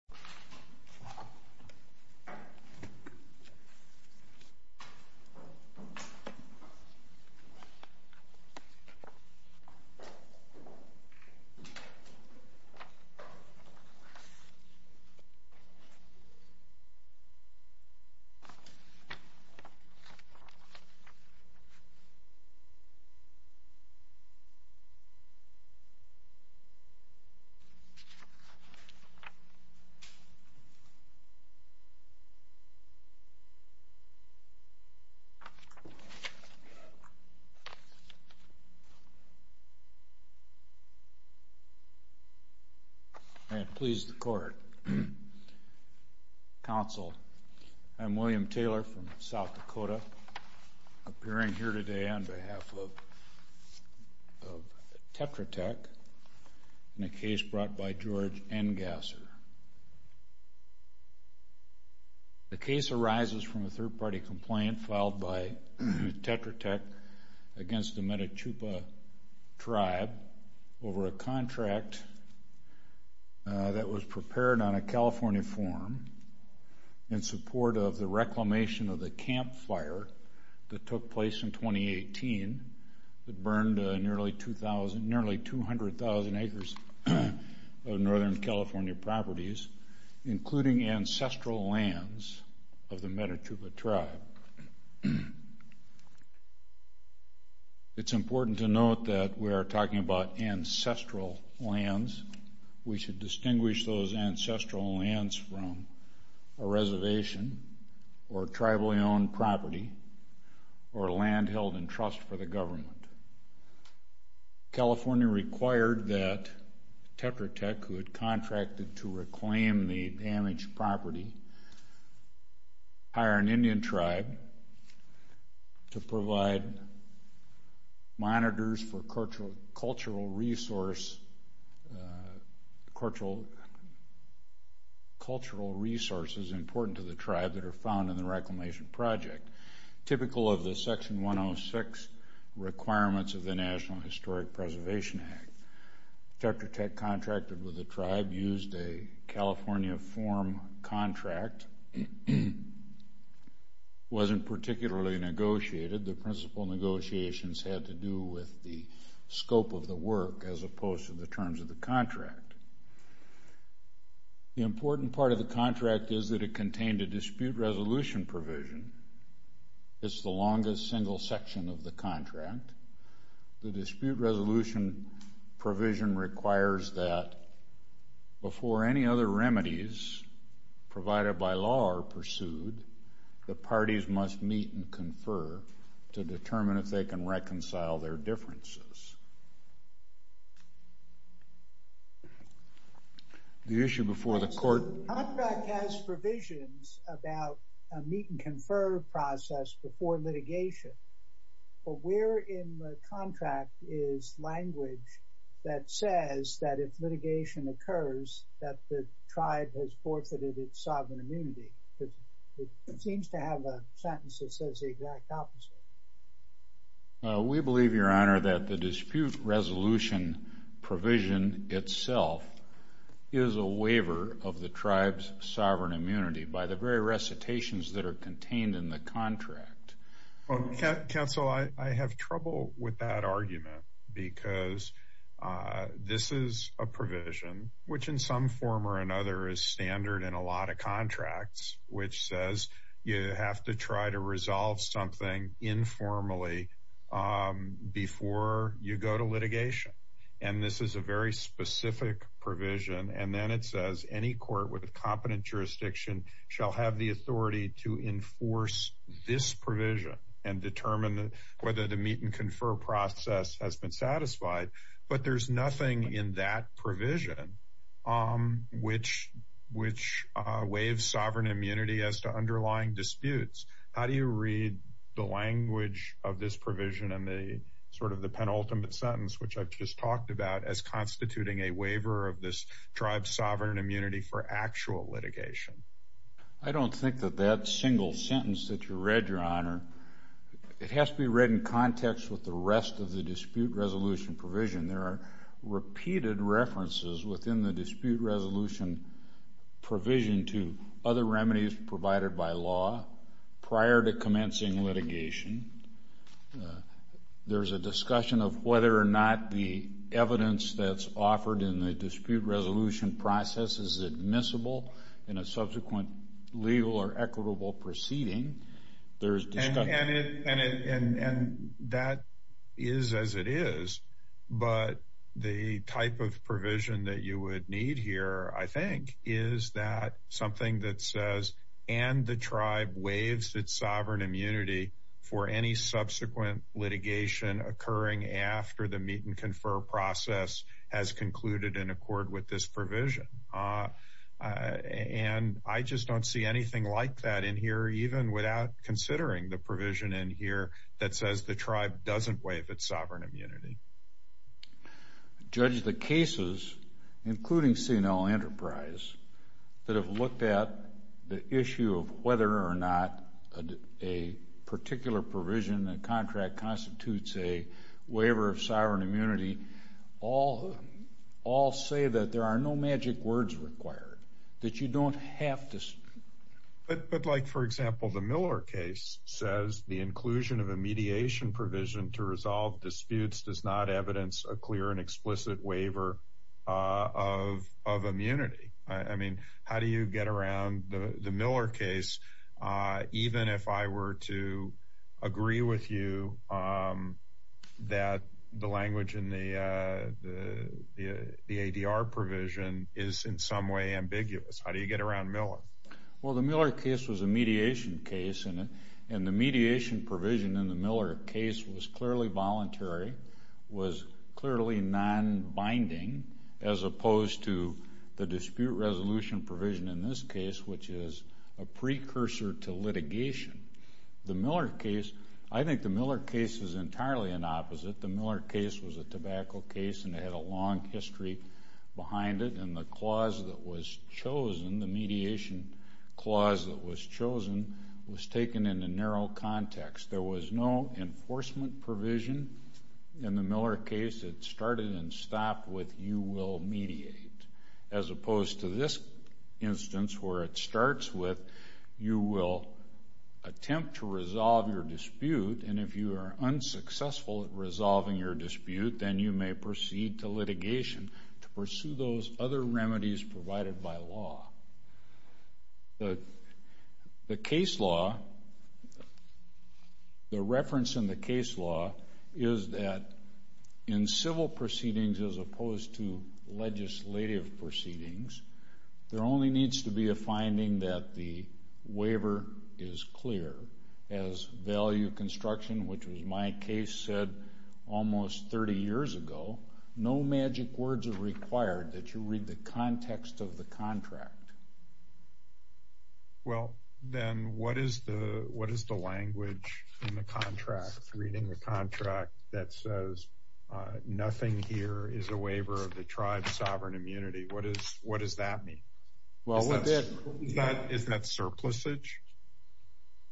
This video was made in Cooperation with the U.S. Embassy in the Philippines. I am William Taylor from South Dakota, appearing here today on behalf of Tetra Tech in a case brought by George Engasser. The case arises from a third-party complaint filed by Tetra Tech against the Meta Chupa tribe over a contract that was prepared on a California form in support of the reclamation of the Camp Fire that took place in 2018 that burned nearly 200,000 acres of Northern California properties, including ancestral lands of the Meta Chupa tribe. It's important to note that we are talking about ancestral lands. We should distinguish those ancestral lands from a reservation or tribally-owned property or land held in trust for the government. California required that Tetra Tech, who had contracted to reclaim the damaged property, hire an Indian tribe to provide monitors for cultural resources important to the tribe that are found in the reclamation project, typical of the Section 106 requirements of the National Historic Preservation Act. Tetra Tech contracted with the tribe, used a California form contract, wasn't particularly negotiated. The principal negotiations had to do with the scope of the work as opposed to the terms of the contract. The important part of the contract is that it contained a dispute resolution provision. It's the longest single section of the contract. The dispute resolution provision requires that, before any other remedies provided by law are pursued, the parties must meet and confer to determine if they can reconcile their differences. The issue before the court... In the contract is language that says that if litigation occurs, that the tribe has forfeited its sovereign immunity, because it seems to have a sentence that says the exact opposite. We believe, Your Honor, that the dispute resolution provision itself is a waiver of the tribe's sovereign immunity by the very recitations that are contained in the contract. Counsel, I have trouble with that argument, because this is a provision, which in some form or another is standard in a lot of contracts, which says you have to try to resolve something informally before you go to litigation. This is a very specific provision, and then it says any court with a competent jurisdiction shall have the authority to enforce this provision and determine whether the meet and confer process has been satisfied. But there's nothing in that provision which waives sovereign immunity as to underlying disputes. How do you read the language of this provision and the sort of the penultimate sentence, which I've just talked about, as constituting a waiver of this tribe's sovereign immunity for actual litigation? I don't think that that single sentence that you read, Your Honor, it has to be read in context with the rest of the dispute resolution provision. There are repeated references within the dispute resolution provision to other remedies provided by law prior to commencing litigation. There's a discussion of whether or not the evidence that's offered in the dispute resolution process is admissible in a subsequent legal or equitable proceeding. There's discussion... And that is as it is, but the type of provision that you would need here, I think, is that something that says and the tribe waives its sovereign immunity for any subsequent litigation occurring after the meet and confer process has concluded in accord with this provision. And I just don't see anything like that in here, even without considering the provision in here that says the tribe doesn't waive its sovereign immunity. Judge, the cases, including C&L Enterprise, that have looked at the issue of whether or not a particular provision, a contract constitutes a waiver of sovereign immunity, all say that there are no magic words required, that you don't have to... But like, for example, the Miller case says the inclusion of a mediation provision to resolve disputes does not evidence a clear and explicit waiver of immunity. I mean, how do you get around the Miller case, even if I were to agree with you that the language in the ADR provision is in some way ambiguous? How do you get around Miller? Well, the Miller case was a mediation case, and the mediation provision in the Miller case was clearly voluntary, was clearly non-binding, as opposed to the dispute resolution provision in this case, which is a precursor to litigation. The Miller case, I think the Miller case is entirely an opposite. The Miller case was a tobacco case, and it had a long history behind it, and the clause that was chosen, the mediation clause that was chosen, was taken in a narrow context. There was no enforcement provision in the Miller case that started and stopped with you will mediate, as opposed to this instance, where it starts with you will attempt to resolve your dispute, and if you are unsuccessful at resolving your dispute, then you may proceed to litigation to pursue those other remedies provided by law. The case law, the reference in the case law is that in civil proceedings, as opposed to legislative proceedings, there only needs to be a finding that the waiver is clear. As value construction, which was my case, said almost 30 years ago, no magic words are used in the contract. Well then, what is the language in the contract, reading the contract, that says nothing here is a waiver of the tribe's sovereign immunity? What does that mean? Is that surplusage?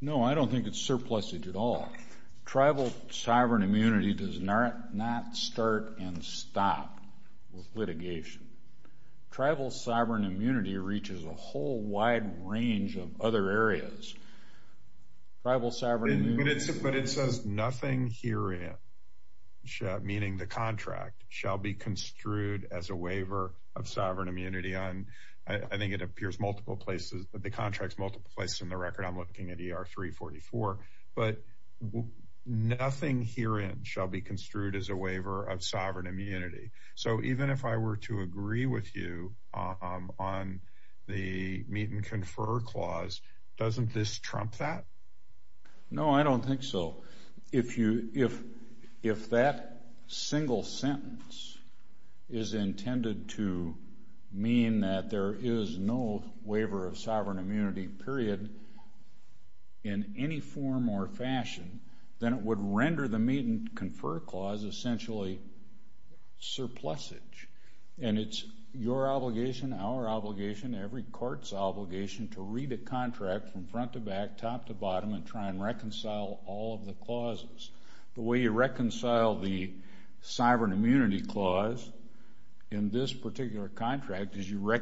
No, I don't think it's surplusage at all. Tribal sovereign immunity does not start and stop with litigation. Tribal sovereign immunity reaches a whole wide range of other areas. Tribal sovereign immunity... But it says nothing herein, meaning the contract, shall be construed as a waiver of sovereign immunity on, I think it appears multiple places, the contract's multiple places in the record, I'm looking at ER 344, but nothing herein shall be construed as a waiver of sovereign immunity. So even if I were to agree with you on the meet and confer clause, doesn't this trump that? No, I don't think so. If that single sentence is intended to mean that there is no waiver of sovereign immunity, period, in any form or fashion, then it would render the meet and confer clause essentially surplusage. And it's your obligation, our obligation, every court's obligation to read a contract from front to back, top to bottom, and try and reconcile all of the clauses. The way you reconcile the sovereign immunity clause in this particular contract is you What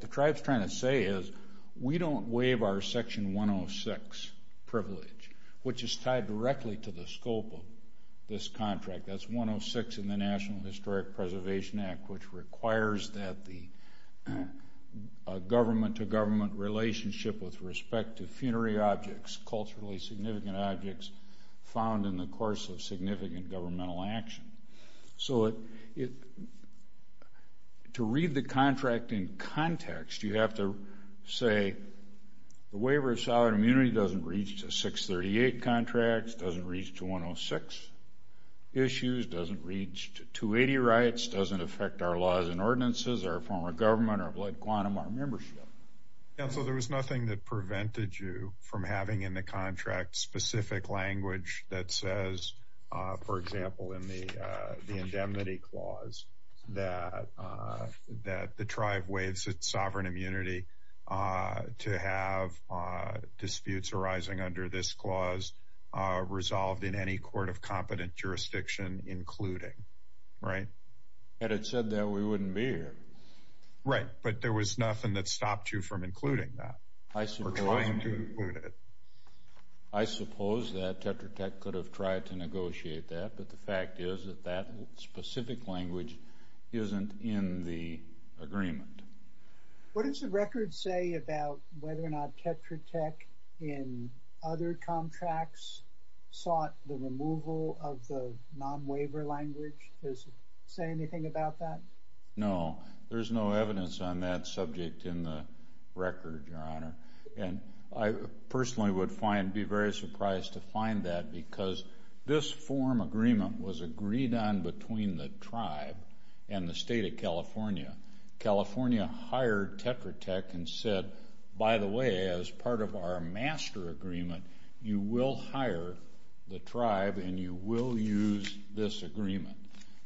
the tribe's trying to say is we don't waive our section 106 privilege, which is tied directly to the scope of this contract. That's 106 in the National Historic Preservation Act, which requires that the government-to-government relationship with respect to funerary objects, culturally significant objects, found in the course of significant governmental action. So to read the contract in context, you have to say the waiver of sovereign immunity doesn't reach to 638 contracts, doesn't reach to 106 issues, doesn't reach to 280 rights, doesn't affect our laws and ordinances, our form of government, our blood quantum, our membership. Yeah, so there was nothing that prevented you from having in the contract specific language that says, for example, in the indemnity clause, that the tribe waives its sovereign immunity to have disputes arising under this clause resolved in any court of competent jurisdiction including. Right? Had it said that, we wouldn't be here. Right, but there was nothing that stopped you from including that or trying to include it. I suppose that Tetra Tech could have tried to negotiate that, but the fact is that that specific language isn't in the agreement. What does the record say about whether or not Tetra Tech, in other contracts, sought the removal of the non-waiver language? Does it say anything about that? No, there's no evidence on that subject in the record, Your Honor. And I personally would find, be very surprised to find that because this form agreement was agreed on between the tribe and the state of California. California hired Tetra Tech and said, by the way, as part of our master agreement, you will hire the tribe and you will use this agreement.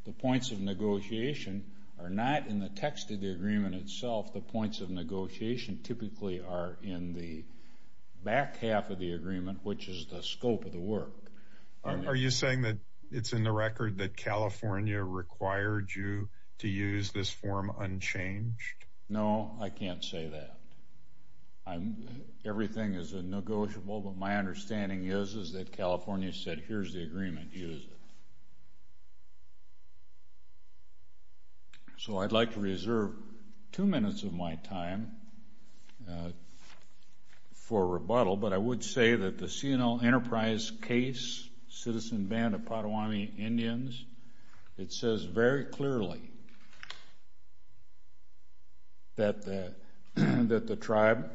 The points of negotiation are not in the text of the agreement itself. The points of negotiation typically are in the back half of the agreement, which is the scope of the work. Are you saying that it's in the record that California required you to use this form unchanged? No, I can't say that. Everything is negotiable, but my understanding is that California said, here's the agreement, use it. So, I'd like to reserve two minutes of my time for rebuttal, but I would say that the C&L Enterprise case, Citizen Band of Pottawamie Indians, it says very clearly that the tribe,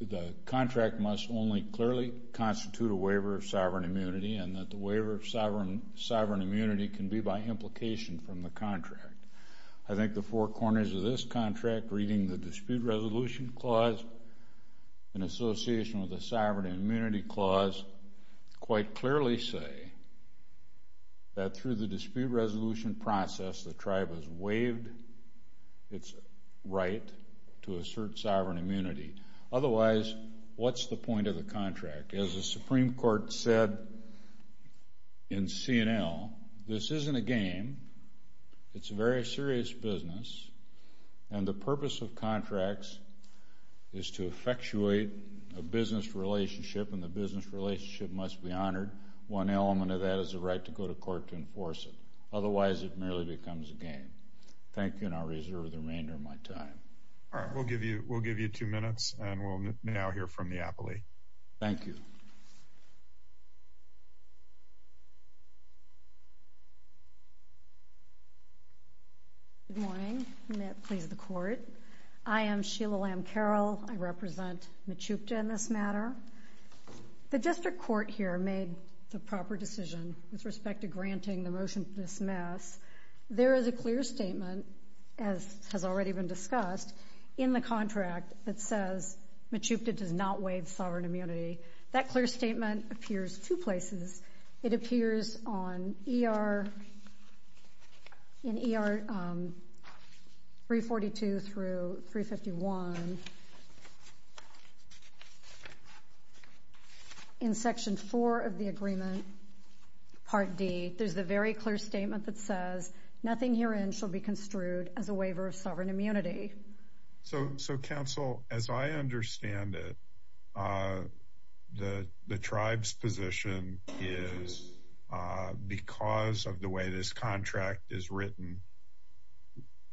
the contract must only clearly constitute a waiver of sovereign immunity and that the waiver of sovereign immunity can be by implication from the contract. I think the four corners of this contract, reading the dispute resolution clause in association with the sovereign immunity clause, quite clearly say that through the dispute resolution process, the tribe has waived its right to assert sovereign immunity. Otherwise, what's the point of the contract? As the Supreme Court said in C&L, this isn't a game. It's a very serious business and the purpose of contracts is to effectuate a business relationship and the business relationship must be honored. One element of that is the right to go to court to enforce it. Otherwise, it merely becomes a game. Thank you and I'll reserve the remainder of my time. All right. We'll give you two minutes and we'll now hear from Neapoli. Thank you. Good morning. May it please the Court. I am Sheila Lamb Carroll. I represent Mechoopda in this matter. The district court here made the proper decision with respect to granting the motion to dismiss. There is a clear statement, as has already been discussed, in the contract that says waive sovereign immunity. That clear statement appears two places. It appears in ER 342 through 351 in Section 4 of the agreement, Part D. There's a very clear statement that says nothing herein shall be construed as a waiver of sovereign immunity. So, counsel, as I understand it, the tribe's position is because of the way this contract is written,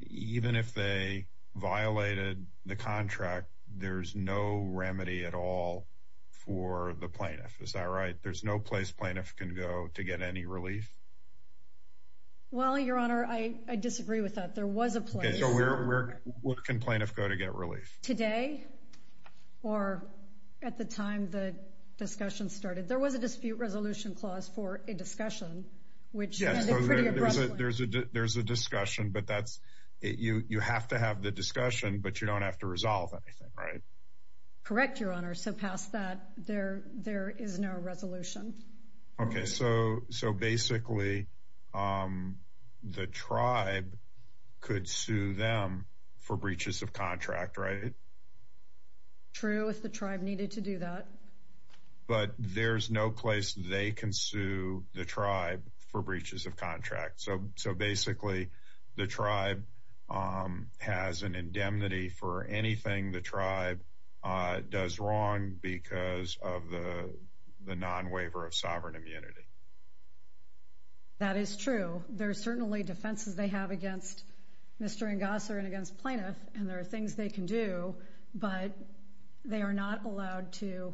even if they violated the contract, there's no remedy at all for the plaintiff. Is that right? There's no place plaintiff can go to get any relief? Well, your Honor, I disagree with that. There was a place. Okay, so where can plaintiff go to get relief? Today or at the time the discussion started. There was a dispute resolution clause for a discussion, which ended pretty abruptly. There's a discussion, but you have to have the discussion, but you don't have to resolve anything, right? Correct, your Honor. So past that, there is no resolution. Okay, so basically the tribe could sue them for breaches of contract, right? True if the tribe needed to do that. But there's no place they can sue the tribe for breaches of contract. So basically the tribe has an indemnity for anything the tribe does wrong because of the non-waiver of sovereign immunity. That is true. There's certainly defenses they have against Mr. Engasser and against plaintiff, and there are things they can do, but they are not allowed to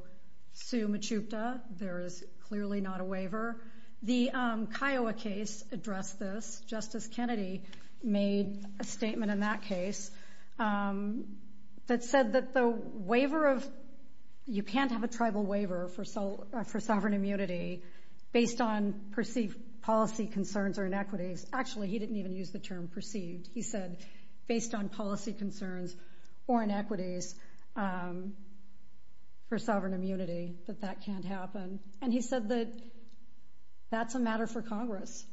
sue Mechoopda. There is clearly not a waiver. The Kiowa case addressed this. Justice Kennedy made a statement in that case that said that the waiver of, you can't have a tribal waiver for sovereign immunity based on perceived policy concerns or inequities. Actually, he didn't even use the term perceived. He said, based on policy concerns or inequities for sovereign immunity, that that can't happen. And he said that that's a matter for Congress,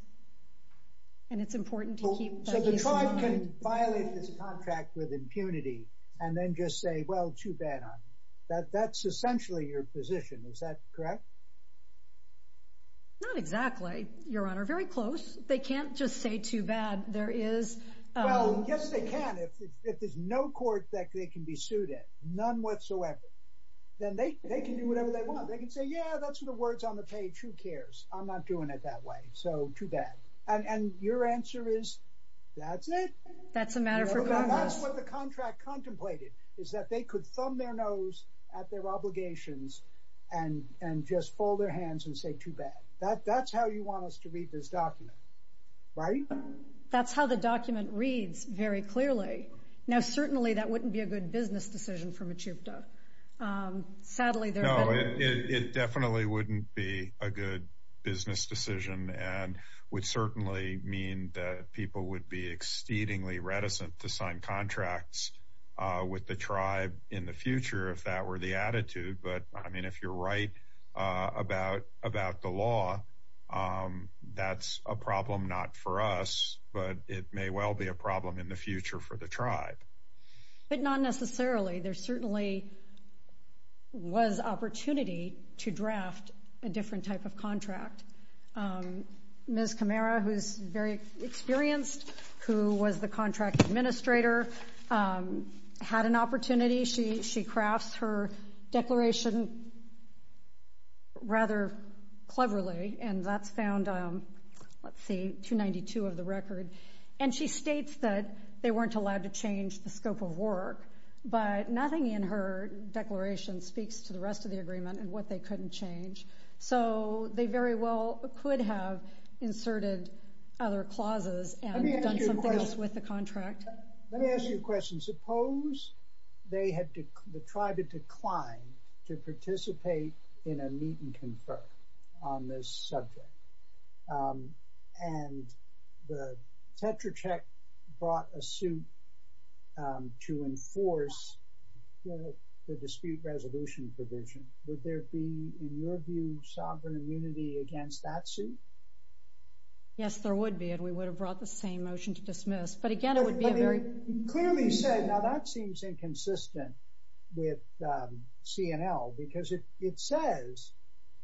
and it's important to keep that issue. So the tribe can violate this contract with impunity and then just say, well, too bad on you. That's essentially your position. Is that correct? Not exactly, Your Honor. Very close. They can't just say, too bad. There is... Well, yes, they can. If there's no court that they can be sued in, none whatsoever, then they can do whatever they want. They can say, yeah, that's what the word's on the page. Who cares? I'm not doing it that way. So, too bad. And your answer is, that's it? I'm not doing it that way. So, too bad. And your answer is, that's it? That's a matter for Congress. at their obligations and just fold their hands and say, too bad. That's how you want us to read this document, right? That's how the document reads very clearly. Now, certainly, that wouldn't be a good business decision for Mechupta. Sadly, there have been... No, it definitely wouldn't be a good business decision and would certainly mean that people would be exceedingly reticent to sign contracts with the tribe in the future if that were the attitude. But, I mean, if you're right about the law, that's a problem not for us, but it may well be a problem in the future for the tribe. But not necessarily. There certainly was opportunity to draft a different type of contract. Ms. Kamara, who's very experienced, who was the contract administrator, had an opportunity. She crafts her declaration rather cleverly, and that's found, let's see, 292 of the record. And she states that they weren't allowed to change the scope of work, but nothing in her declaration speaks to the rest of the agreement and what they couldn't change. So they very well could have inserted other clauses and done some things with the contract. Let me ask you a question. Suppose the tribe had declined to participate in a meet-and-confer on this subject, and the Tetracheck brought a suit to enforce the dispute resolution provision. Would there be, in your view, sovereign immunity against that suit? Yes, there would be, and we would have brought the same motion to dismiss. But again, it would be a very... It clearly said... Now, that seems inconsistent with C&L, because it says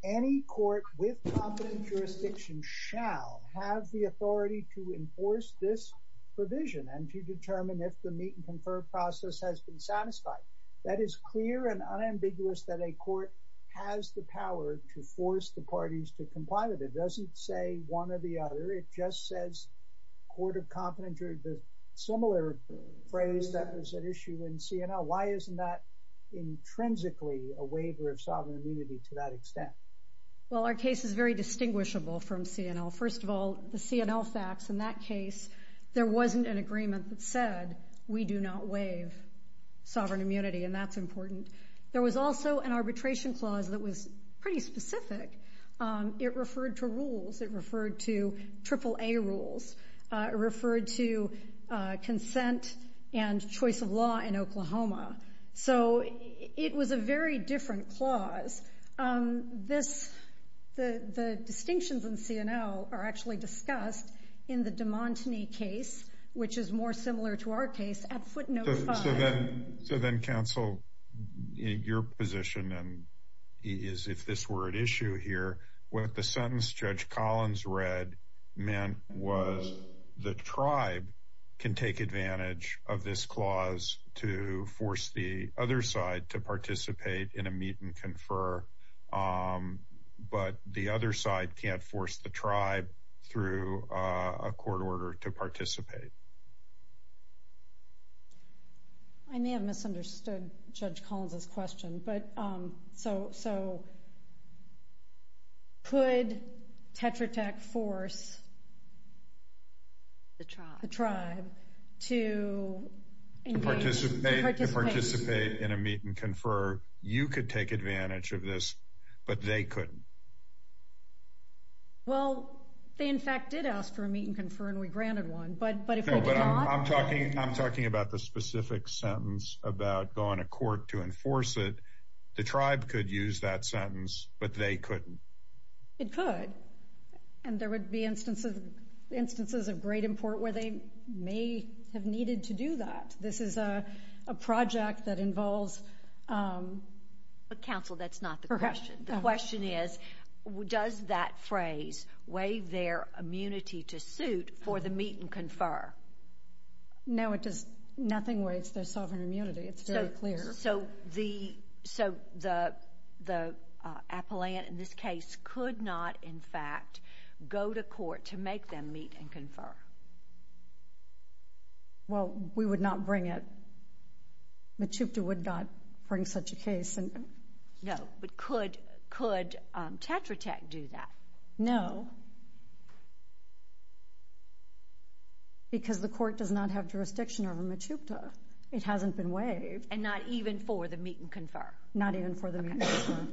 any court with competent jurisdiction shall have the authority to enforce this provision and to determine if the meet-and-confer process has been satisfied. That is clear and unambiguous that a court has the power to force the parties to comply with it. It doesn't say one or the other. It just says court of competence or the similar phrase that was at issue in C&L. Why isn't that intrinsically a waiver of sovereign immunity to that extent? Well, our case is very distinguishable from C&L. First of all, the C&L facts in that case, there wasn't an agreement that said we do not waive sovereign immunity, and that's important. There was also an arbitration clause that was pretty specific. It referred to rules. It referred to AAA rules. It referred to consent and choice of law in Oklahoma. So it was a very different clause. The distinctions in C&L are actually discussed in the DeMontigny case, which is more similar to our case, at footnote 5. So then, counsel, your position is, if this were at issue here, wouldn't the sentence Judge Collins read meant was the tribe can take advantage of this clause to force the other side to participate in a meet and confer, but the other side can't force the tribe through I may have misunderstood Judge Collins' question, but, so, could Tetra Tech force the tribe to participate in a meet and confer? You could take advantage of this, but they couldn't. Well, they, in fact, did ask for a meet and confer, and we granted one, but if we did not... No, but I'm talking about the specific sentence about going to court to enforce it. The tribe could use that sentence, but they couldn't. It could, and there would be instances of great import where they may have needed to do that. This is a project that involves... But, counsel, that's not the question. The question is, does that phrase waive their immunity to suit for the meet and confer? No, it does nothing waive their sovereign immunity. It's very clear. So, the appellant in this case could not, in fact, go to court to make them meet and confer? Well, we would not bring it. No, but could Tetra Tech do that? No, because the court does not have jurisdiction over Mechupta. It hasn't been waived. And not even for the meet and confer? Not even for the meet and confer.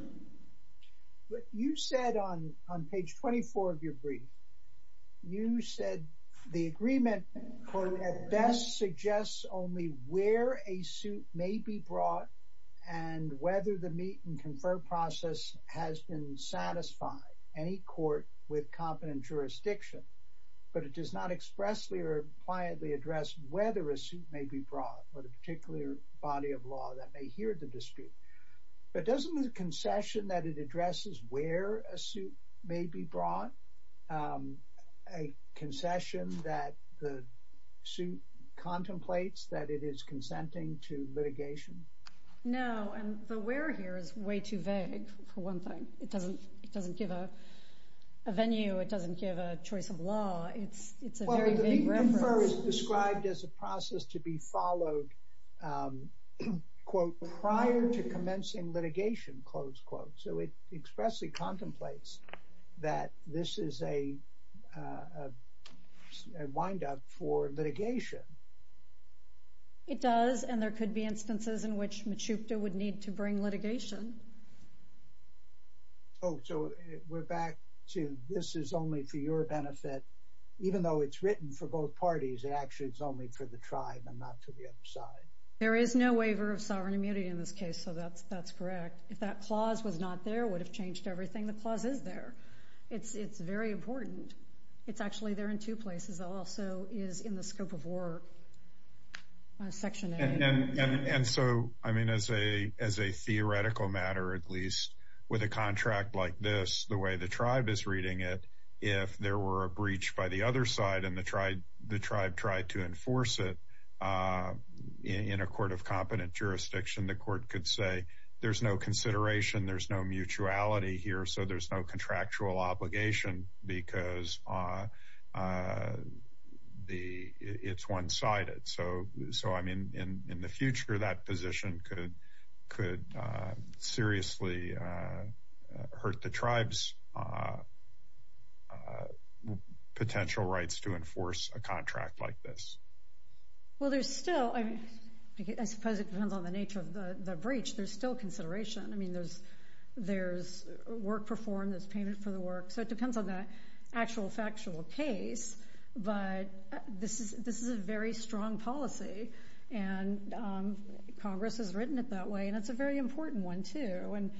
You said on page 24 of your brief, you said the agreement could at best suggest only where a suit may be brought and whether the meet and confer process has been satisfied. Any court with competent jurisdiction. But it does not expressly or pliantly address whether a suit may be brought, or the particular body of law that may hear the dispute. But doesn't the concession that it addresses where a suit may be brought, a concession that the suit contemplates that it is consenting to litigation? No, and the where here is way too vague for one thing. It doesn't give a venue. It doesn't give a choice of law. It's a very vague reference. Well, the meet and confer is described as a process to be followed, quote, prior to commencing litigation, close quote. So it expressly contemplates that this is a windup for litigation. It does, and there could be instances in which Mechoopda would need to bring litigation. Oh, so we're back to this is only for your benefit, even though it's written for both parties, it actually is only for the tribe and not for the other side. There is no waiver of sovereign immunity in this case, so that's correct. If that clause was not there, it would have changed everything. The clause is there. It's very important. It's actually there in two places. It also is in the scope of work, Section A. And so, I mean, as a theoretical matter, at least, with a contract like this, the way the tribe is reading it, if there were a breach by the other side and the tribe tried to enforce it in a court of competent jurisdiction, the court could say, there's no consideration, there's no mutuality here, so there's no contractual obligation because it's one-sided. So I mean, in the future, that position could seriously hurt the tribe's potential rights to enforce a contract like this. Well, there's still, I suppose it depends on the nature of the breach, there's still consideration. I mean, there's work performed, there's payment for the work, so it depends on the actual factual case, but this is a very strong policy and Congress has written it that way and it's a very important one, too. And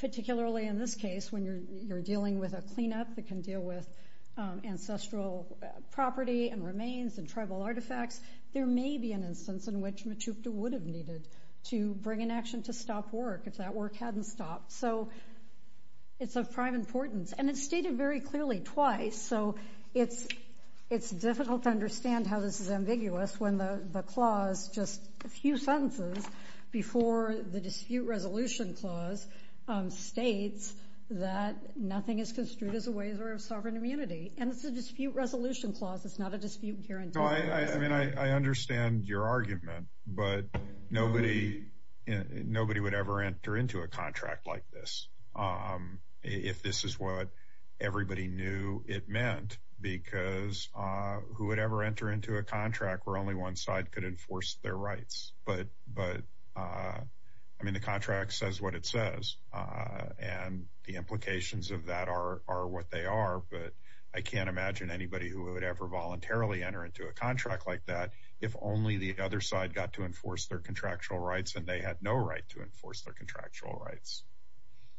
particularly in this case, when you're dealing with a cleanup that can deal with ancestral property and remains and tribal artifacts, there may be an instance in which Mechoopda would have needed to bring an action to stop work if that work hadn't stopped. So it's of prime importance and it's stated very clearly twice, so it's difficult to understand how this is ambiguous when the clause, just a few sentences before the dispute resolution clause, states that nothing is construed as a waiver of sovereign immunity. And it's a dispute resolution clause, it's not a dispute guarantee. I mean, I understand your argument, but nobody would ever enter into a contract like this if this is what everybody knew it meant, because who would ever enter into a contract where only one side could enforce their rights? But I mean, the contract says what it says and the implications of that are what they are, but I can't imagine anybody who would ever voluntarily enter into a contract like that if only the other side got to enforce their contractual rights and they had no right to enforce their contractual rights.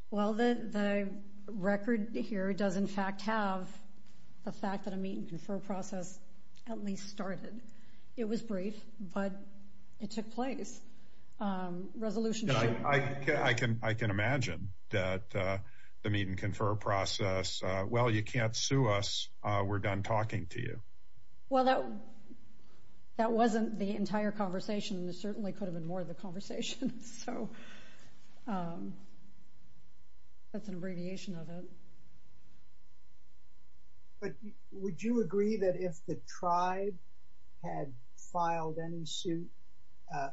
Well, the record here does in fact have the fact that a meet and confer process at least started. It was brief, but it took place. I can imagine that the meet and confer process, well, you can't sue us, we're done talking to you. Well, that wasn't the entire conversation and it certainly could have been more of the conversation. So that's an abbreviation of it. But would you agree that if the tribe had filed any suit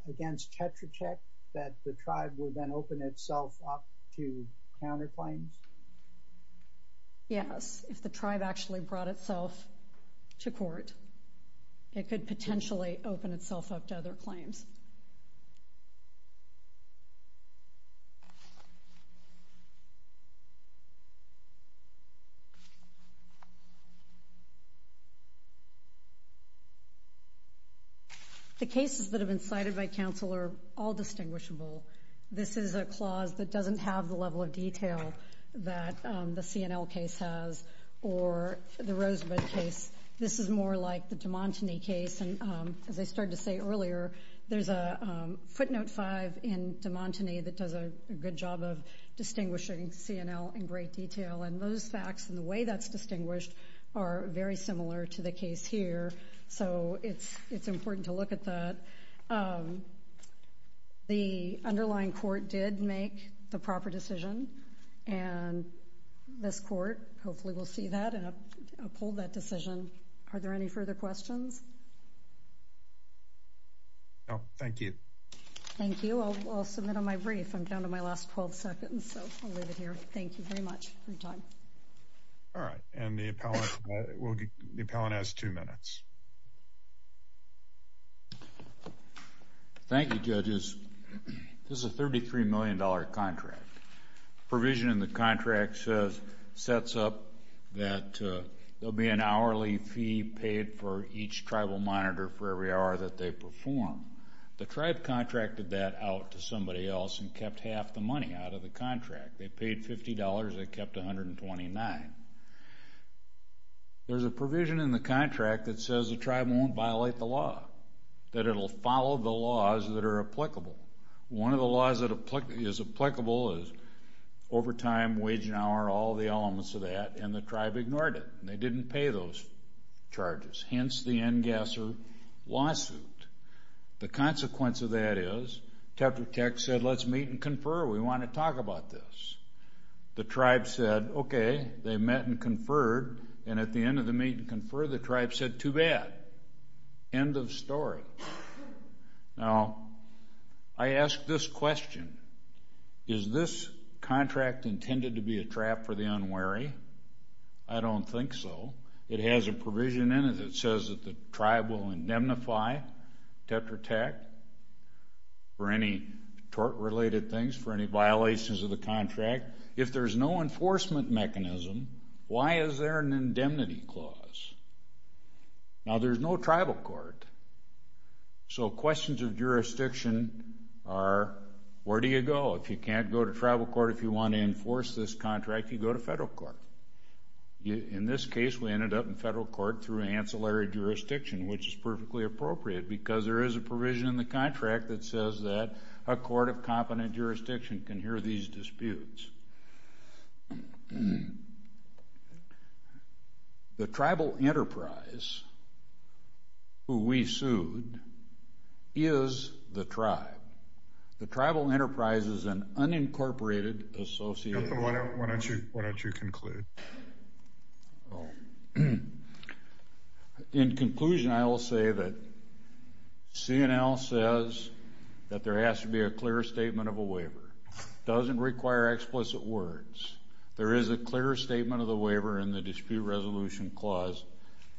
against Tetra Tech that the tribe would then open itself up to counterclaims? Yes, if the tribe actually brought itself to court, it could potentially open itself up to other claims. The cases that have been cited by counsel are all distinguishable. This is a clause that doesn't have the level of detail that the C&L case has or the Rosebud case. This is more like the DeMontigny case and as I started to say earlier, there's a footnote five in DeMontigny that does a good job of distinguishing C&L in great detail and those facts and the way that's distinguished are very similar to the case here. So it's important to look at that. The underlying court did make the proper decision and this court hopefully will see that and uphold that decision. Are there any further questions? No, thank you. Thank you. I'll submit on my brief. I'm down to my last 12 seconds, so I'll leave it here. Thank you very much for your time. All right. And the appellant has two minutes. Thank you, judges. This is a $33 million contract. Provision in the contract says, sets up that there'll be an hourly fee paid for each tribal monitor for every hour that they perform. The tribe contracted that out to somebody else and kept half the money out of the contract. They paid $50. They kept $129. There's a provision in the contract that says the tribe won't violate the law, that it'll follow the laws that are applicable. One of the laws that is applicable is overtime, wage and hour, all the elements of that, and the tribe ignored it. They didn't pay those charges, hence the Engasser lawsuit. Sure we want to talk about this. The tribe said, okay. They met and conferred, and at the end of the meeting, confer, the tribe said, too bad. End of story. Now, I ask this question. Is this contract intended to be a trap for the unwary? I don't think so. It has a provision in it that says that the tribe will indemnify Tetra Tech for any tort-related things, for any violations of the contract. If there's no enforcement mechanism, why is there an indemnity clause? Now, there's no tribal court, so questions of jurisdiction are, where do you go? If you can't go to tribal court, if you want to enforce this contract, you go to federal court. In this case, we ended up in federal court through ancillary jurisdiction, which is perfectly appropriate because there is a provision in the contract that says that a court of competent jurisdiction can hear these disputes. The tribal enterprise, who we sued, is the tribe. The tribal enterprise is an unincorporated association. Why don't you conclude? In conclusion, I will say that C&L says that there has to be a clear statement of a will. It doesn't require explicit words. There is a clear statement of the waiver in the dispute resolution clause.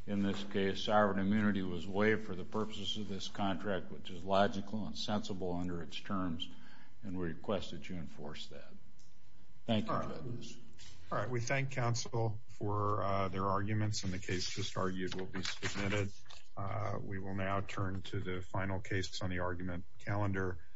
In this case, sovereign immunity was waived for the purposes of this contract, which is logical and sensible under its terms, and we request that you enforce that. Thank you. All right. We thank counsel for their arguments, and the case just argued will be submitted. We will now turn to the final case on the argument calendar.